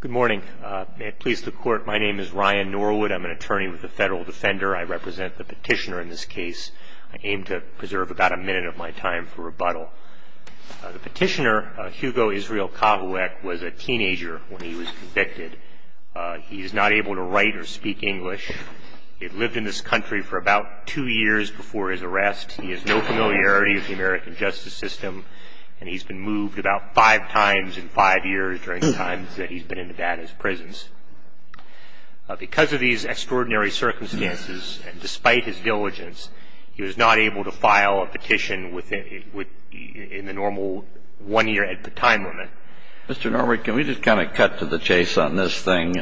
Good morning. May it please the Court, my name is Ryan Norwood. I am an attorney with the Federal Defender. I represent the petitioner in this case. I aim to preserve about a minute of my time for rebuttal. The petitioner, Hugo Israel Kavouec, was a teenager when he was convicted. He is not able to write or speak English. He had lived in this country for about two years before his arrest. He has no familiarity with the American justice system and he has been moved about five times in five years during the times that he was in prison. Because of these extraordinary circumstances and despite his diligence, he was not able to file a petition in the normal one-year time limit. Mr. Norwood, can we just kind of cut to the chase on this thing?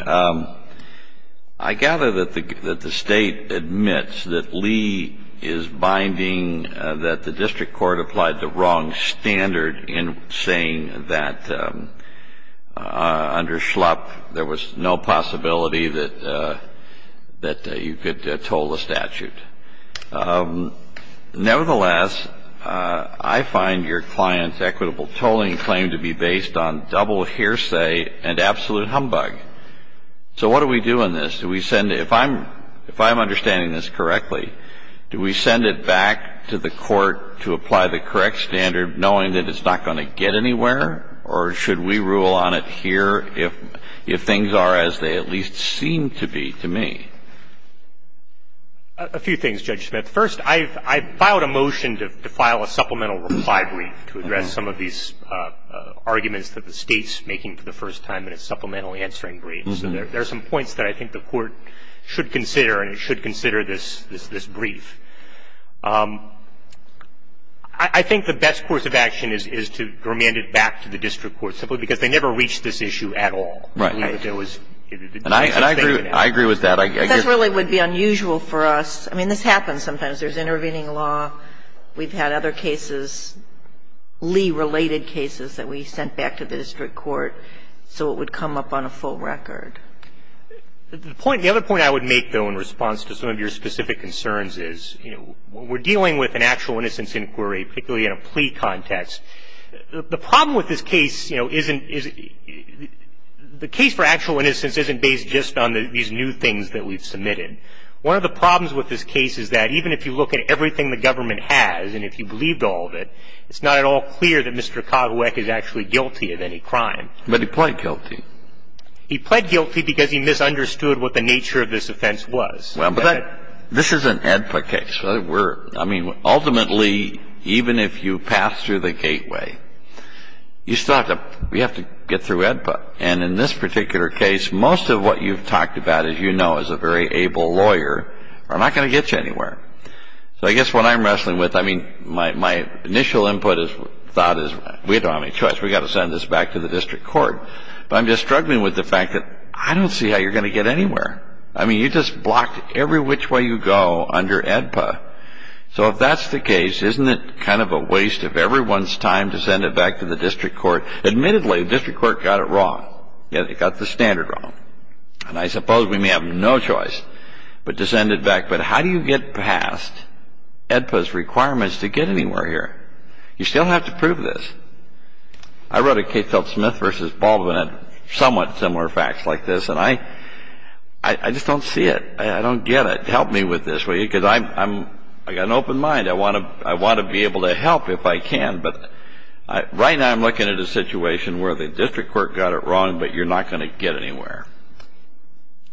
I gather that the State admits that Lee is binding that the District Court applied the wrong standard in saying that under Schlupf there was no possibility that you could toll the statute. Nevertheless, I find your client's equitable tolling claim to be based on double hearsay and absolute humbug. So what do we do in this? Do we send it, if I'm understanding this correctly, do we send it back to the Court to apply the correct standard knowing that it's not going to get anywhere, or should we rule on it here if things are as they at least seem to be to me? A few things, Judge Smith. First, I've filed a motion to file a supplemental reply brief to address some of these arguments that the State's making for the first time in its supplemental answering brief. So there are some points that I think the Court should consider and it should consider this brief. I think the best course of action is to remand it back to the District Court simply because they never reached this issue at all. Right. And I agree with that. That really would be unusual for us. I mean, this happens sometimes. There's intervening law. We've had other cases, Lee-related cases, that we sent back to the District Court so it would come up on a full record. The point, the other point I would make, though, in response to some of your specific concerns is, you know, we're dealing with an actual innocence inquiry, particularly in a plea context. The problem with this case, you know, isn't, is the case for actual innocence isn't based just on these new things that we've submitted. One of the problems with this case is that even if you look at everything the government has and if you believed all of it, it's not at all clear that Mr. Cogweck is actually guilty of any crime. But he pled guilty. He pled guilty because he misunderstood what the nature of this offense was. Well, but that, this is an AEDPA case. We're, I mean, ultimately, even if you pass through the gateway, you still have to, you have to get through AEDPA. And in this particular case, most of what you've talked about, as you know, as a very able lawyer are not going to get you anywhere. So I guess what I'm wrestling with, I mean, my, my initial input is, thought is, we don't have any choice. We've got to send this back to the District Court. But I'm just struggling with the fact that I don't see how you're going to get anywhere. I mean, you just blocked every which way you go under AEDPA. So if that's the case, isn't it kind of a waste of everyone's time to send it back to the District Court? Admittedly, the District Court got it wrong. It got the standard wrong. And I suppose we may have no choice but to send it back. But how do you get past AEDPA's requirements to get anywhere here? You still have to prove this. I wrote a case called Smith v. Baldwin on somewhat similar facts like this. And I, I just don't see it. I don't get it. Help me with this, will you? Because I'm, I'm, I've an open mind. I want to, I want to be able to help if I can. But I, right now I'm looking at a situation where the District Court got it wrong, but you're not going to get anywhere.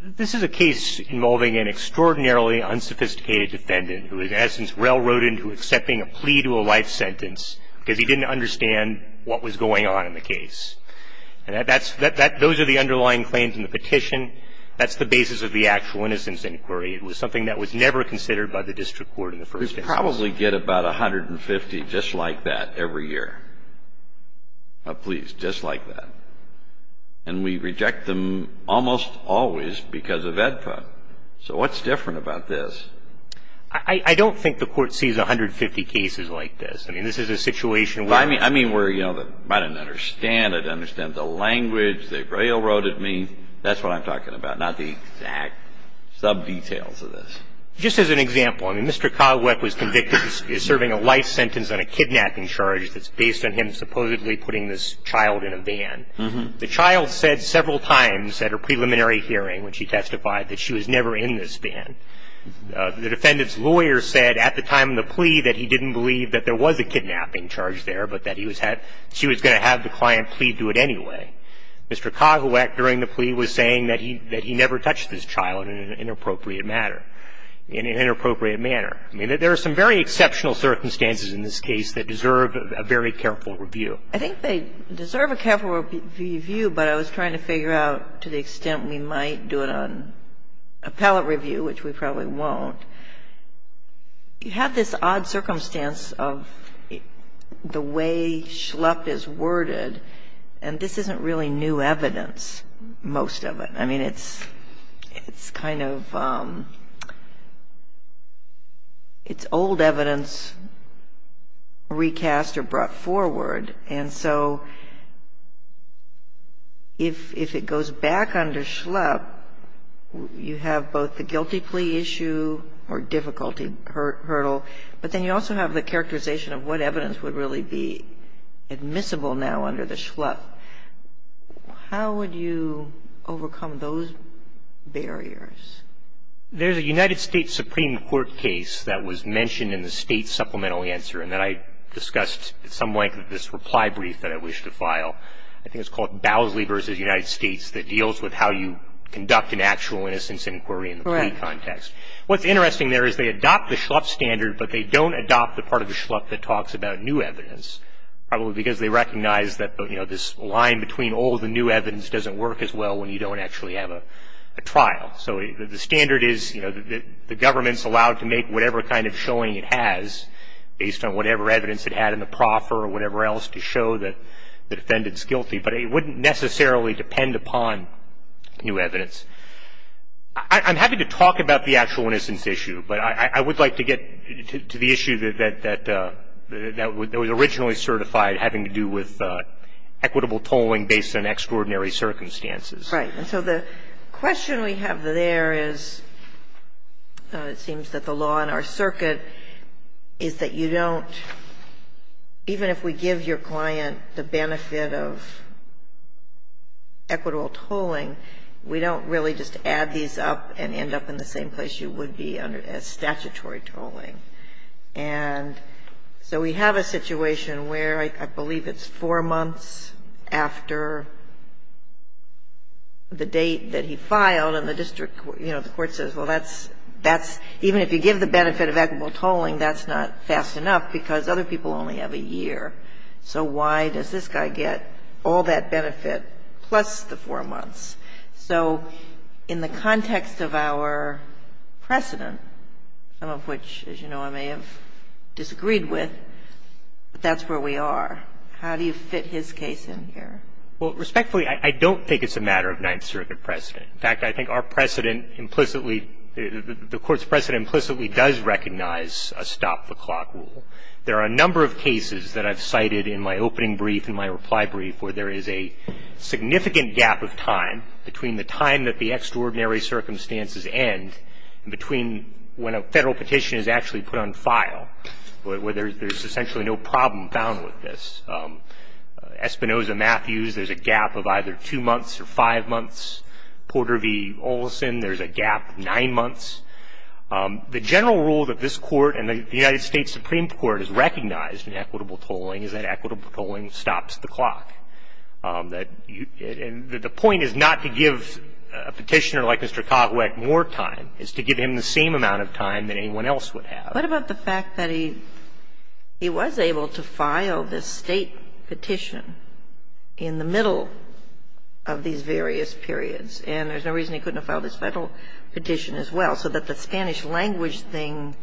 This is a case involving an extraordinarily unsophisticated defendant who in essence railroaded into accepting a plea to a life sentence because he didn't understand what was going on in the case. And that's, that, that, those are the underlying claims in the petition. That's the basis of the actual innocence inquiry. It was something that was never considered by the District Court in the first instance. We probably get about 150 just like that every year. Please, just like that. And we reject them almost always because of AEDPA. So what's different about this? I, I don't think the Court sees 150 cases like this. I mean, this is a situation where I mean, I mean where, you know, I didn't understand. I didn't understand the language. They railroaded me. That's what I'm talking about. Not the exact sub-details of this. Just as an example, I mean, Mr. Cogweck was convicted of serving a life sentence on a kidnapping charge that's based on him supposedly putting this child in a van. Uh-huh. The child said several times at her preliminary hearing when she testified that she was never in this van. The defendant's lawyer said at the time of the plea that he didn't believe that there was a kidnapping charge there, but that he was had, she was going to have the client plead to it anyway. Mr. Cogweck during the plea was saying that he, that he never touched this child in an inappropriate matter, in an inappropriate manner. I mean, there are some very exceptional circumstances in this case that deserve a very careful review. I think they deserve a careful review, but I was trying to figure out to the extent we might do it on appellate review, which we probably won't. You have this odd circumstance of the way Schlepp is worded, and this isn't really new evidence, most of it. I mean, it's kind of, it's old evidence recast or brought forward, and so if it goes back under Schlepp, you have both the guilty plea issue or difficulty hurdle, but then you also have the characterization of what evidence would really be admissible now under the Schlepp. How would you overcome those barriers? There's a United States Supreme Court case that was mentioned in the State Supplemental Answer, and that I discussed at some length in this reply brief that I wish to file. I think it's called Bowsley v. United States that deals with how you conduct an actual innocence inquiry in the plea context. Correct. What's interesting there is they adopt the Schlepp standard, but they don't adopt the Schlepp that talks about new evidence, probably because they recognize that, you know, this line between old and new evidence doesn't work as well when you don't actually have a trial. So the standard is, you know, the government's allowed to make whatever kind of showing it has based on whatever evidence it had in the proffer or whatever else to show that the defendant's guilty, but it wouldn't necessarily depend upon new evidence. I'm happy to talk about the actual innocence issue, but I would like to get to the issue that was originally certified having to do with equitable tolling based on extraordinary circumstances. Right. And so the question we have there is, it seems that the law in our circuit is that you don't, even if we give your client the benefit of equitable tolling, we don't really just add these up and end up in the same place you would be as statutory tolling. And so we have a situation where I believe it's four months after the date that he filed, and the district, you know, the court says, well, that's, even if you give the benefit of equitable tolling, that's not fast enough because other people only have a year. So why does this guy get all that benefit plus the four months? So in the context of our precedent, some of which, as you know, I may have disagreed with, but that's where we are, how do you fit his case in here? Well, respectfully, I don't think it's a matter of Ninth Circuit precedent. In fact, I think our precedent implicitly, the Court's precedent implicitly does recognize a stop-the-clock rule. There are a number of cases that I've cited in my opening brief and my reply brief where there is a significant gap of time between the time that the extraordinary circumstances end and between when a federal petition is actually put on file, where there's essentially no problem found with this. Espinoza-Matthews, there's a gap of either two months or five months. Porter v. Olson, there's a gap of nine months. The general rule that this Court and the United States Supreme Court has recognized in equitable tolling is that equitable tolling stops the clock. And the point is not to give a petitioner like Mr. Cogweck more time. It's to give him the same amount of time that anyone else would have. What about the fact that he was able to file this State petition in the middle of these various periods, and there's no reason he couldn't have filed this Federal petition as well, so that the Spanish language thing,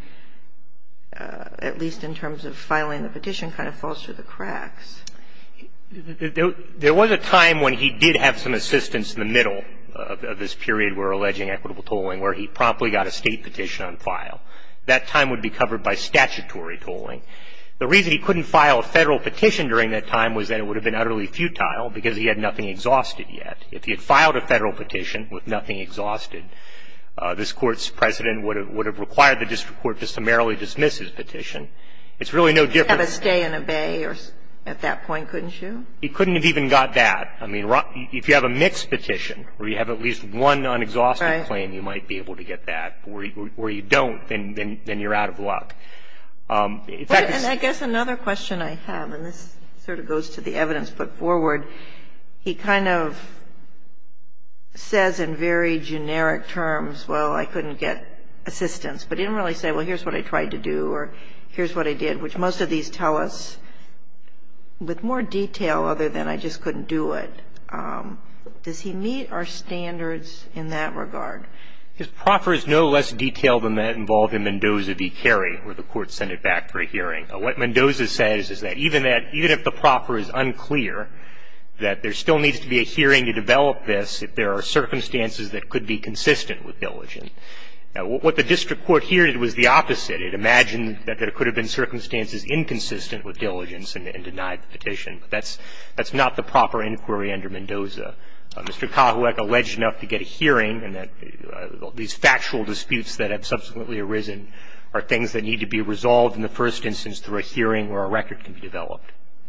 at least in terms of filing the petition, kind of falls through the cracks? There was a time when he did have some assistance in the middle of this period we're alleging equitable tolling where he promptly got a State petition on file. That time would be covered by statutory tolling. The reason he couldn't file a Federal petition during that time was that it would have been utterly futile because he had nothing exhausted yet. If he had filed a Federal petition with nothing exhausted, this Court's precedent would have required the district court to summarily dismiss his petition. It's really no different. He could have a stay in a bay at that point, couldn't you? He couldn't have even got that. I mean, if you have a mixed petition where you have at least one unexhausted claim, you might be able to get that. Right. Where you don't, then you're out of luck. In fact, it's the same thing. And I guess another question I have, and this sort of goes to the evidence put forward, he kind of says in very generic terms, well, I couldn't get assistance, but didn't really say, well, here's what I tried to do or here's what I did, which most of these tell us with more detail other than I just couldn't do it. Does he meet our standards in that regard? His proffer is no less detailed than that involved in Mendoza v. Cary, where the Court sent it back for hearing. What Mendoza says is that even that, even if the proffer is unclear, that there still needs to be a hearing to develop this if there are circumstances that could be consistent with diligence. Now, what the district court heard was the opposite. It imagined that there could have been circumstances inconsistent with diligence and denied the petition. That's not the proper inquiry under Mendoza. Mr. Kahuek alleged enough to get a hearing and that these factual disputes that have been brought forward by the district court were not consistent with diligence. The district court heard that Mendoza's proffer is no less detailed than that involved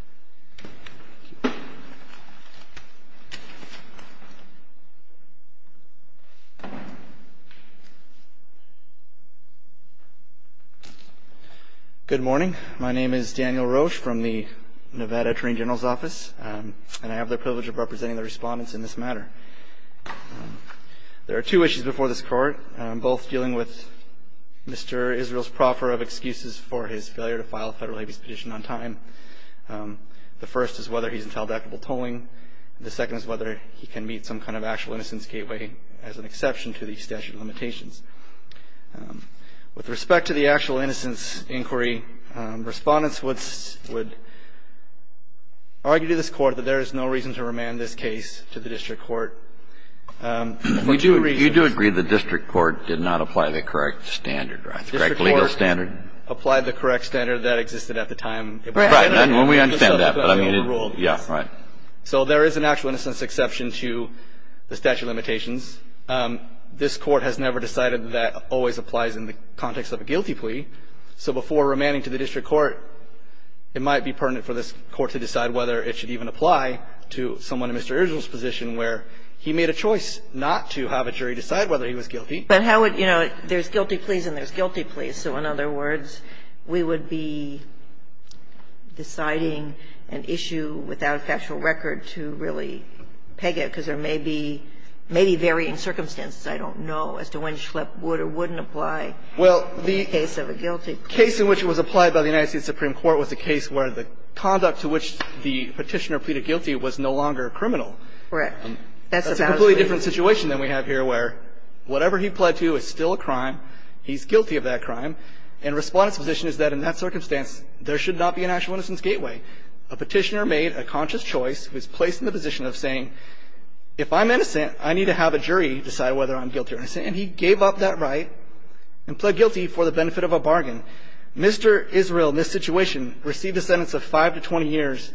Does he meet our standards in that regard? What Mendoza says is that there still needs to be a hearing to develop this if there That's not the proper inquiry under Mendoza. Does he meet our standards in that regard? both in order to meet the standards of the District Court that are outlined in the trial and the Federal Abuse Petition on time. The first is whether he's entitled to equitable tolling. The second is whether he can meet some kind of actual innocence gateway as an exception to the statute of limitations. With respect to the actual innocence inquiry, respondents would argue to this court that there is no reason to remand this case to the District Court for two reasons. You do agree the District Court did not apply the correct standard, right? The correct legal standard? The District Court applied the correct standard that existed at the time. Right. We understand that, but I mean, yeah, right. So there is an actual innocence exception to the statute of limitations. This Court has never decided that that always applies in the context of a guilty plea. So before remanding to the District Court, it might be pertinent for this Court to decide whether it should even apply to someone in Mr. Irgil's position where he made a choice not to have a jury decide whether he was guilty. But how would, you know, there's guilty pleas and there's guilty pleas. So in other words, we would be deciding an issue without a factual record to really peg it because there may be varying circumstances, I don't know, as to when Schlepp would or wouldn't apply in the case of a guilty plea. Well, the case in which it was applied by the United States Supreme Court was a case where the conduct to which the Petitioner pleaded guilty was no longer criminal. Right. That's a completely different situation than we have here where whatever he pled to is still a crime, he's guilty of that crime, and Respondent's position is that in that circumstance, there should not be an actual innocence gateway. A Petitioner made a conscious choice, was placed in the position of saying, if I'm innocent, I need to have a jury decide whether I'm guilty or innocent, and he gave up that right and pled guilty for the benefit of a bargain. Mr. Israel, in this situation, received a sentence of 5 to 20 years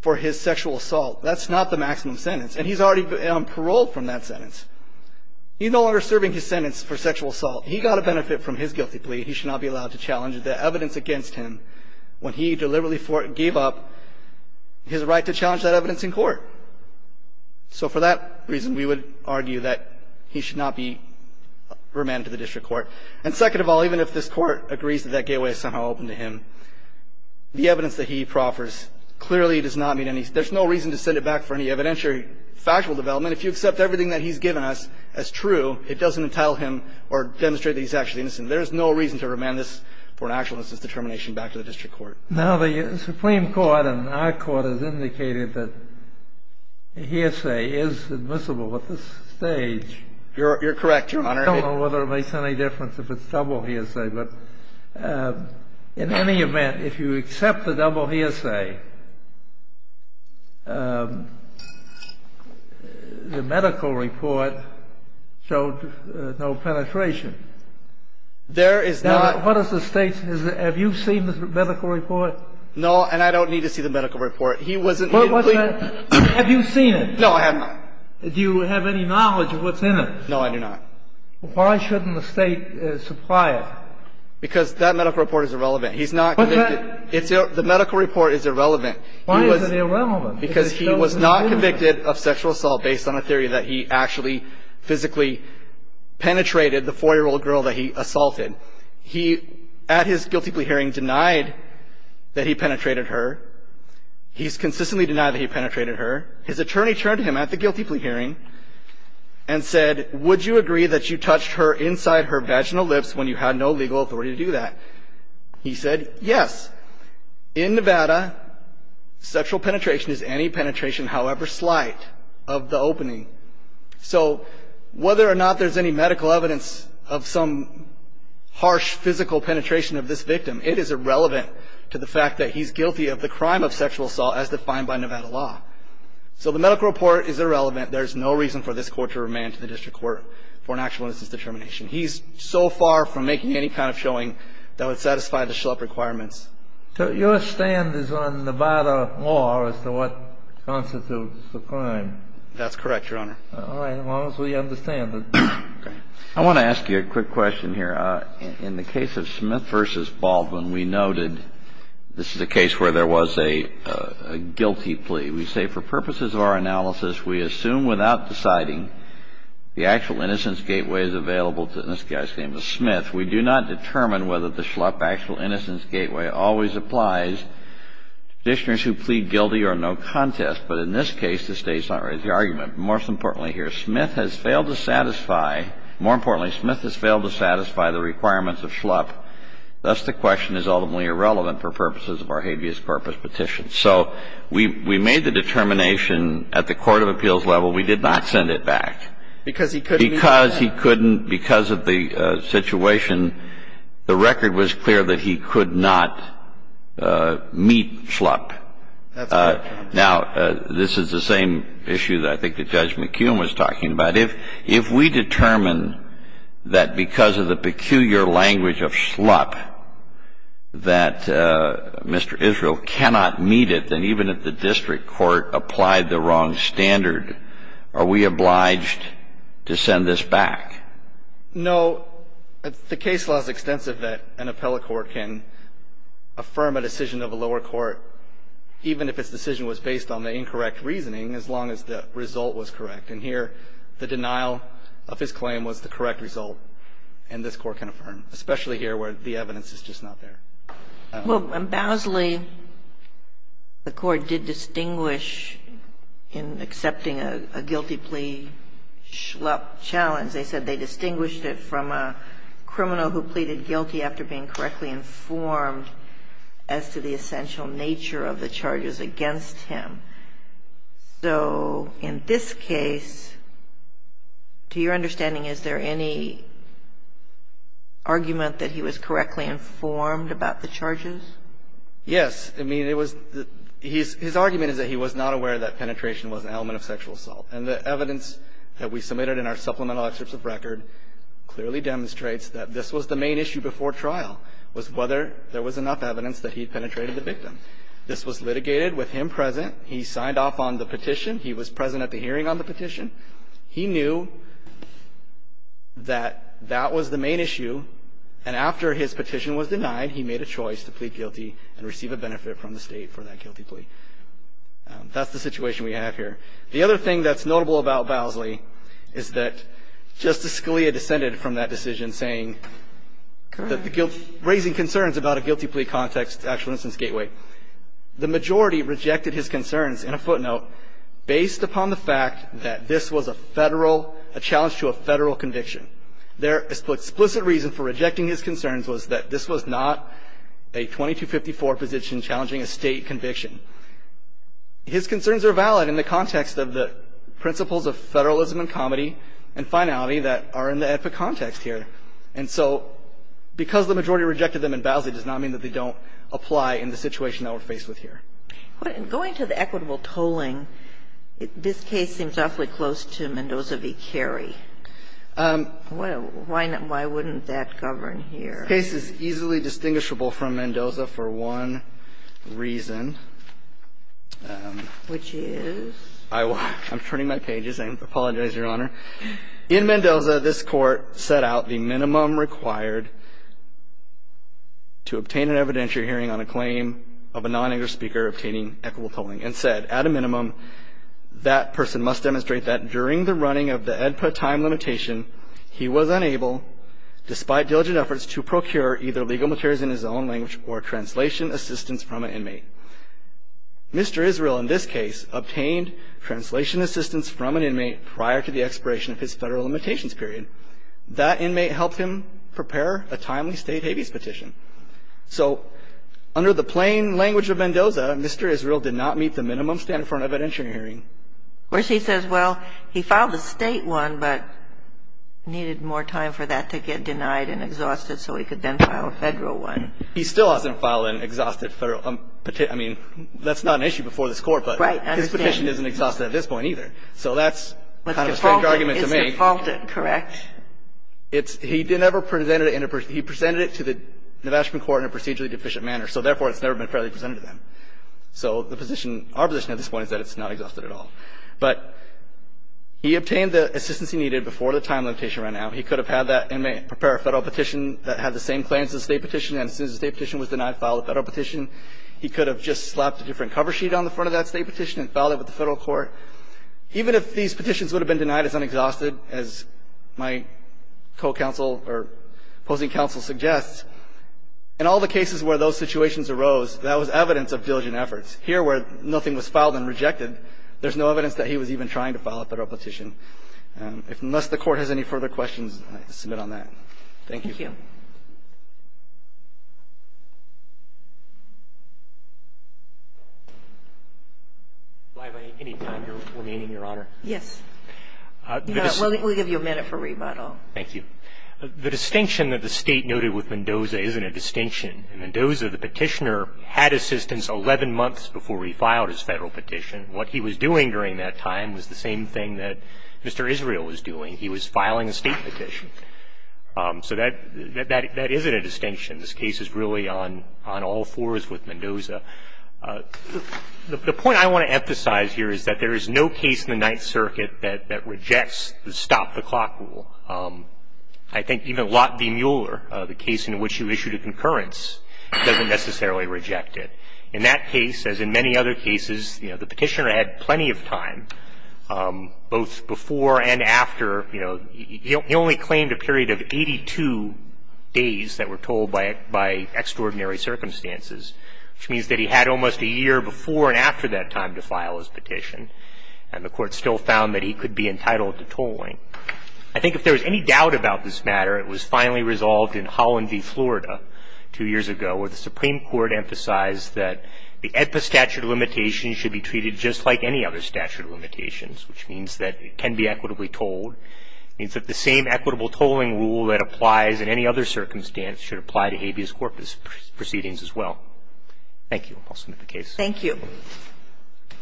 for his sexual assault. That's not the maximum sentence, and he's already on parole from that sentence. He's no longer serving his sentence for sexual assault. He got a benefit from his guilty plea. He should not be allowed to challenge the evidence against him when he deliberately gave up his right to challenge that evidence in court. So for that reason, we would argue that he should not be remanded to the district court. And second of all, even if this Court agrees that that gateway is somehow open to him, the evidence that he proffers clearly does not mean any – there's no reason to send it back for any evidentiary factual development. If you accept everything that he's given us as true, it doesn't entail him or demonstrate that he's actually innocent. There is no reason to remand this for an actual innocence determination back to the district court. Now, the Supreme Court and our Court has indicated that hearsay is admissible at this stage. You're correct, Your Honor. I don't know whether it makes any difference if it's double hearsay. But in any event, if you accept the double hearsay, the medical report showed no penetration. There is not. What is the State's – have you seen the medical report? No, and I don't need to see the medical report. He wasn't – he didn't plead. Have you seen it? No, I have not. Do you have any knowledge of what's in it? No, I do not. Why shouldn't the State supply it? Because that medical report is irrelevant. He's not convicted. The medical report is irrelevant. Why is it irrelevant? Because he was not convicted of sexual assault based on a theory that he actually physically penetrated the 4-year-old girl that he assaulted. He, at his guilty plea hearing, denied that he penetrated her. He's consistently denied that he penetrated her. His attorney turned to him at the guilty plea hearing and said, would you agree that you touched her inside her vaginal lips when you had no legal authority to do that? He said, yes. In Nevada, sexual penetration is any penetration, however slight, of the opening. So whether or not there's any medical evidence of some harsh physical penetration of this victim, it is irrelevant to the fact that he's guilty of the crime of sexual assault as defined by Nevada law. So the medical report is irrelevant. There's no reason for this court to remand to the district court for an actual instance of determination. He's so far from making any kind of showing that would satisfy the SHLEP requirements. So your stand is on Nevada law as to what constitutes the crime? That's correct, Your Honor. All right. As long as we understand it. I want to ask you a quick question here. In the case of Smith v. Baldwin, we noted this is a case where there was a guilty plea. We say, for purposes of our analysis, we assume without deciding the actual innocence gateway is available to this guy's name is Smith. We do not determine whether the SHLEP actual innocence gateway always applies to practitioners who plead guilty or no contest. But in this case, the State's not ready to make the argument. Most importantly here, Smith has failed to satisfy, more importantly, Smith has failed to satisfy the requirements of SHLEP. Thus, the question is ultimately irrelevant for purposes of our habeas corpus petition. So we made the determination at the court of appeals level. We did not send it back. Because he couldn't meet SHLEP. Because he couldn't. Because of the situation, the record was clear that he could not meet SHLEP. That's correct, Your Honor. Now, this is the same issue that I think that Judge McKeown was talking about. That if we determine that because of the peculiar language of SHLEP that Mr. Israel cannot meet it, then even if the district court applied the wrong standard, are we obliged to send this back? No. The case law is extensive that an appellate court can affirm a decision of a lower court, even if its decision was based on the incorrect reasoning, as long as the result was correct. And here, the denial of his claim was the correct result. And this Court can affirm, especially here where the evidence is just not there. Well, Bowsley, the Court did distinguish in accepting a guilty plea SHLEP challenge. They said they distinguished it from a criminal who pleaded guilty after being correctly informed as to the essential nature of the charges against him. So in this case, to your understanding, is there any argument that he was correctly informed about the charges? Yes. I mean, it was the – his argument is that he was not aware that penetration was an element of sexual assault. And the evidence that we submitted in our supplemental excerpts of record clearly demonstrates that this was the main issue before trial, was whether there was enough evidence that he penetrated the victim. This was litigated with him present. He signed off on the petition. He was present at the hearing on the petition. He knew that that was the main issue. And after his petition was denied, he made a choice to plead guilty and receive a benefit from the State for that guilty plea. That's the situation we have here. The other thing that's notable about Bowsley is that Justice Scalia descended from that decision saying that the guilty – raising concerns about a guilty plea context, actual instance gateway. The majority rejected his concerns, in a footnote, based upon the fact that this was a Federal – a challenge to a Federal conviction. Their explicit reason for rejecting his concerns was that this was not a 2254 position challenging a State conviction. His concerns are valid in the context of the principles of Federalism and comedy and finality that are in the epic context here. And so because the majority rejected them in Bowsley does not mean that they don't apply in the situation that we're faced with here. And going to the equitable tolling, this case seems awfully close to Mendoza v. Carey. Why wouldn't that govern here? This case is easily distinguishable from Mendoza for one reason. Which is? I'm turning my pages. I apologize, Your Honor. In Mendoza, this Court set out the minimum required to obtain an evidentiary hearing on a claim of a non-English speaker obtaining equitable tolling. And said, at a minimum, that person must demonstrate that during the running of the EDPA time limitation, he was unable, despite diligent efforts, to procure either legal materials in his own language or translation assistance from an inmate. Mr. Israel, in this case, obtained translation assistance from an inmate prior to the expiration of his Federal limitations period. That inmate helped him prepare a timely State habeas petition. So under the plain language of Mendoza, Mr. Israel did not meet the minimum standard for an evidentiary hearing. Whereas he says, well, he filed the State one, but needed more time for that to get denied and exhausted so he could then file a Federal one. He still hasn't filed an exhausted Federal petition. I mean, that's not an issue before this Court, but his petition isn't exhausted at this point either. So that's kind of a strange argument to make. It's defaulted, correct? He didn't ever present it in a personal – he presented it to the management court in a procedurally deficient manner. So therefore, it's never been fairly presented to them. So the position – our position at this point is that it's not exhausted at all. But he obtained the assistance he needed before the time limitation ran out. He could have had that inmate prepare a Federal petition that had the same claims as the State petition, and as soon as the State petition was denied, filed a Federal petition. He could have just slapped a different cover sheet on the front of that State petition and filed it with the Federal court. Even if these petitions would have been denied as unexhausted, as my co-counsel or opposing counsel suggests, in all the cases where those situations arose, that was evidence of diligent efforts. Here, where nothing was filed and rejected, there's no evidence that he was even trying to file a Federal petition. Unless the Court has any further questions, I submit on that. Thank you. Thank you. Thank you. Blivey, any time remaining, Your Honor? Yes. We'll give you a minute for rebuttal. Thank you. The distinction that the State noted with Mendoza isn't a distinction. In Mendoza, the petitioner had assistance 11 months before he filed his Federal petition. What he was doing during that time was the same thing that Mr. Israel was doing. He was filing a State petition. So that isn't a distinction. This case is really on all fours with Mendoza. The point I want to emphasize here is that there is no case in the Ninth Circuit that rejects the stop-the-clock rule. I think even Lot v. Mueller, the case in which you issued a concurrence, doesn't necessarily reject it. In that case, as in many other cases, you know, the petitioner had plenty of time, both before and after. You know, he only claimed a period of 82 days that were told by extraordinary circumstances, which means that he had almost a year before and after that time to file his petition. And the Court still found that he could be entitled to tolling. I think if there was any doubt about this matter, it was finally resolved in Holland v. Florida two years ago, where the Supreme Court emphasized that the AEDPA statute of limitations should be treated just like any other statute of limitations, which means that it can be equitably tolled. It means that the same equitable tolling rule that applies in any other circumstance should apply to habeas corpus proceedings as well. Thank you. I'll submit the case. Thank you.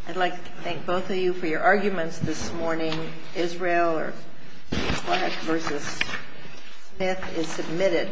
I'd like to thank both of you for your arguments this morning. Israel v. Smith is submitted.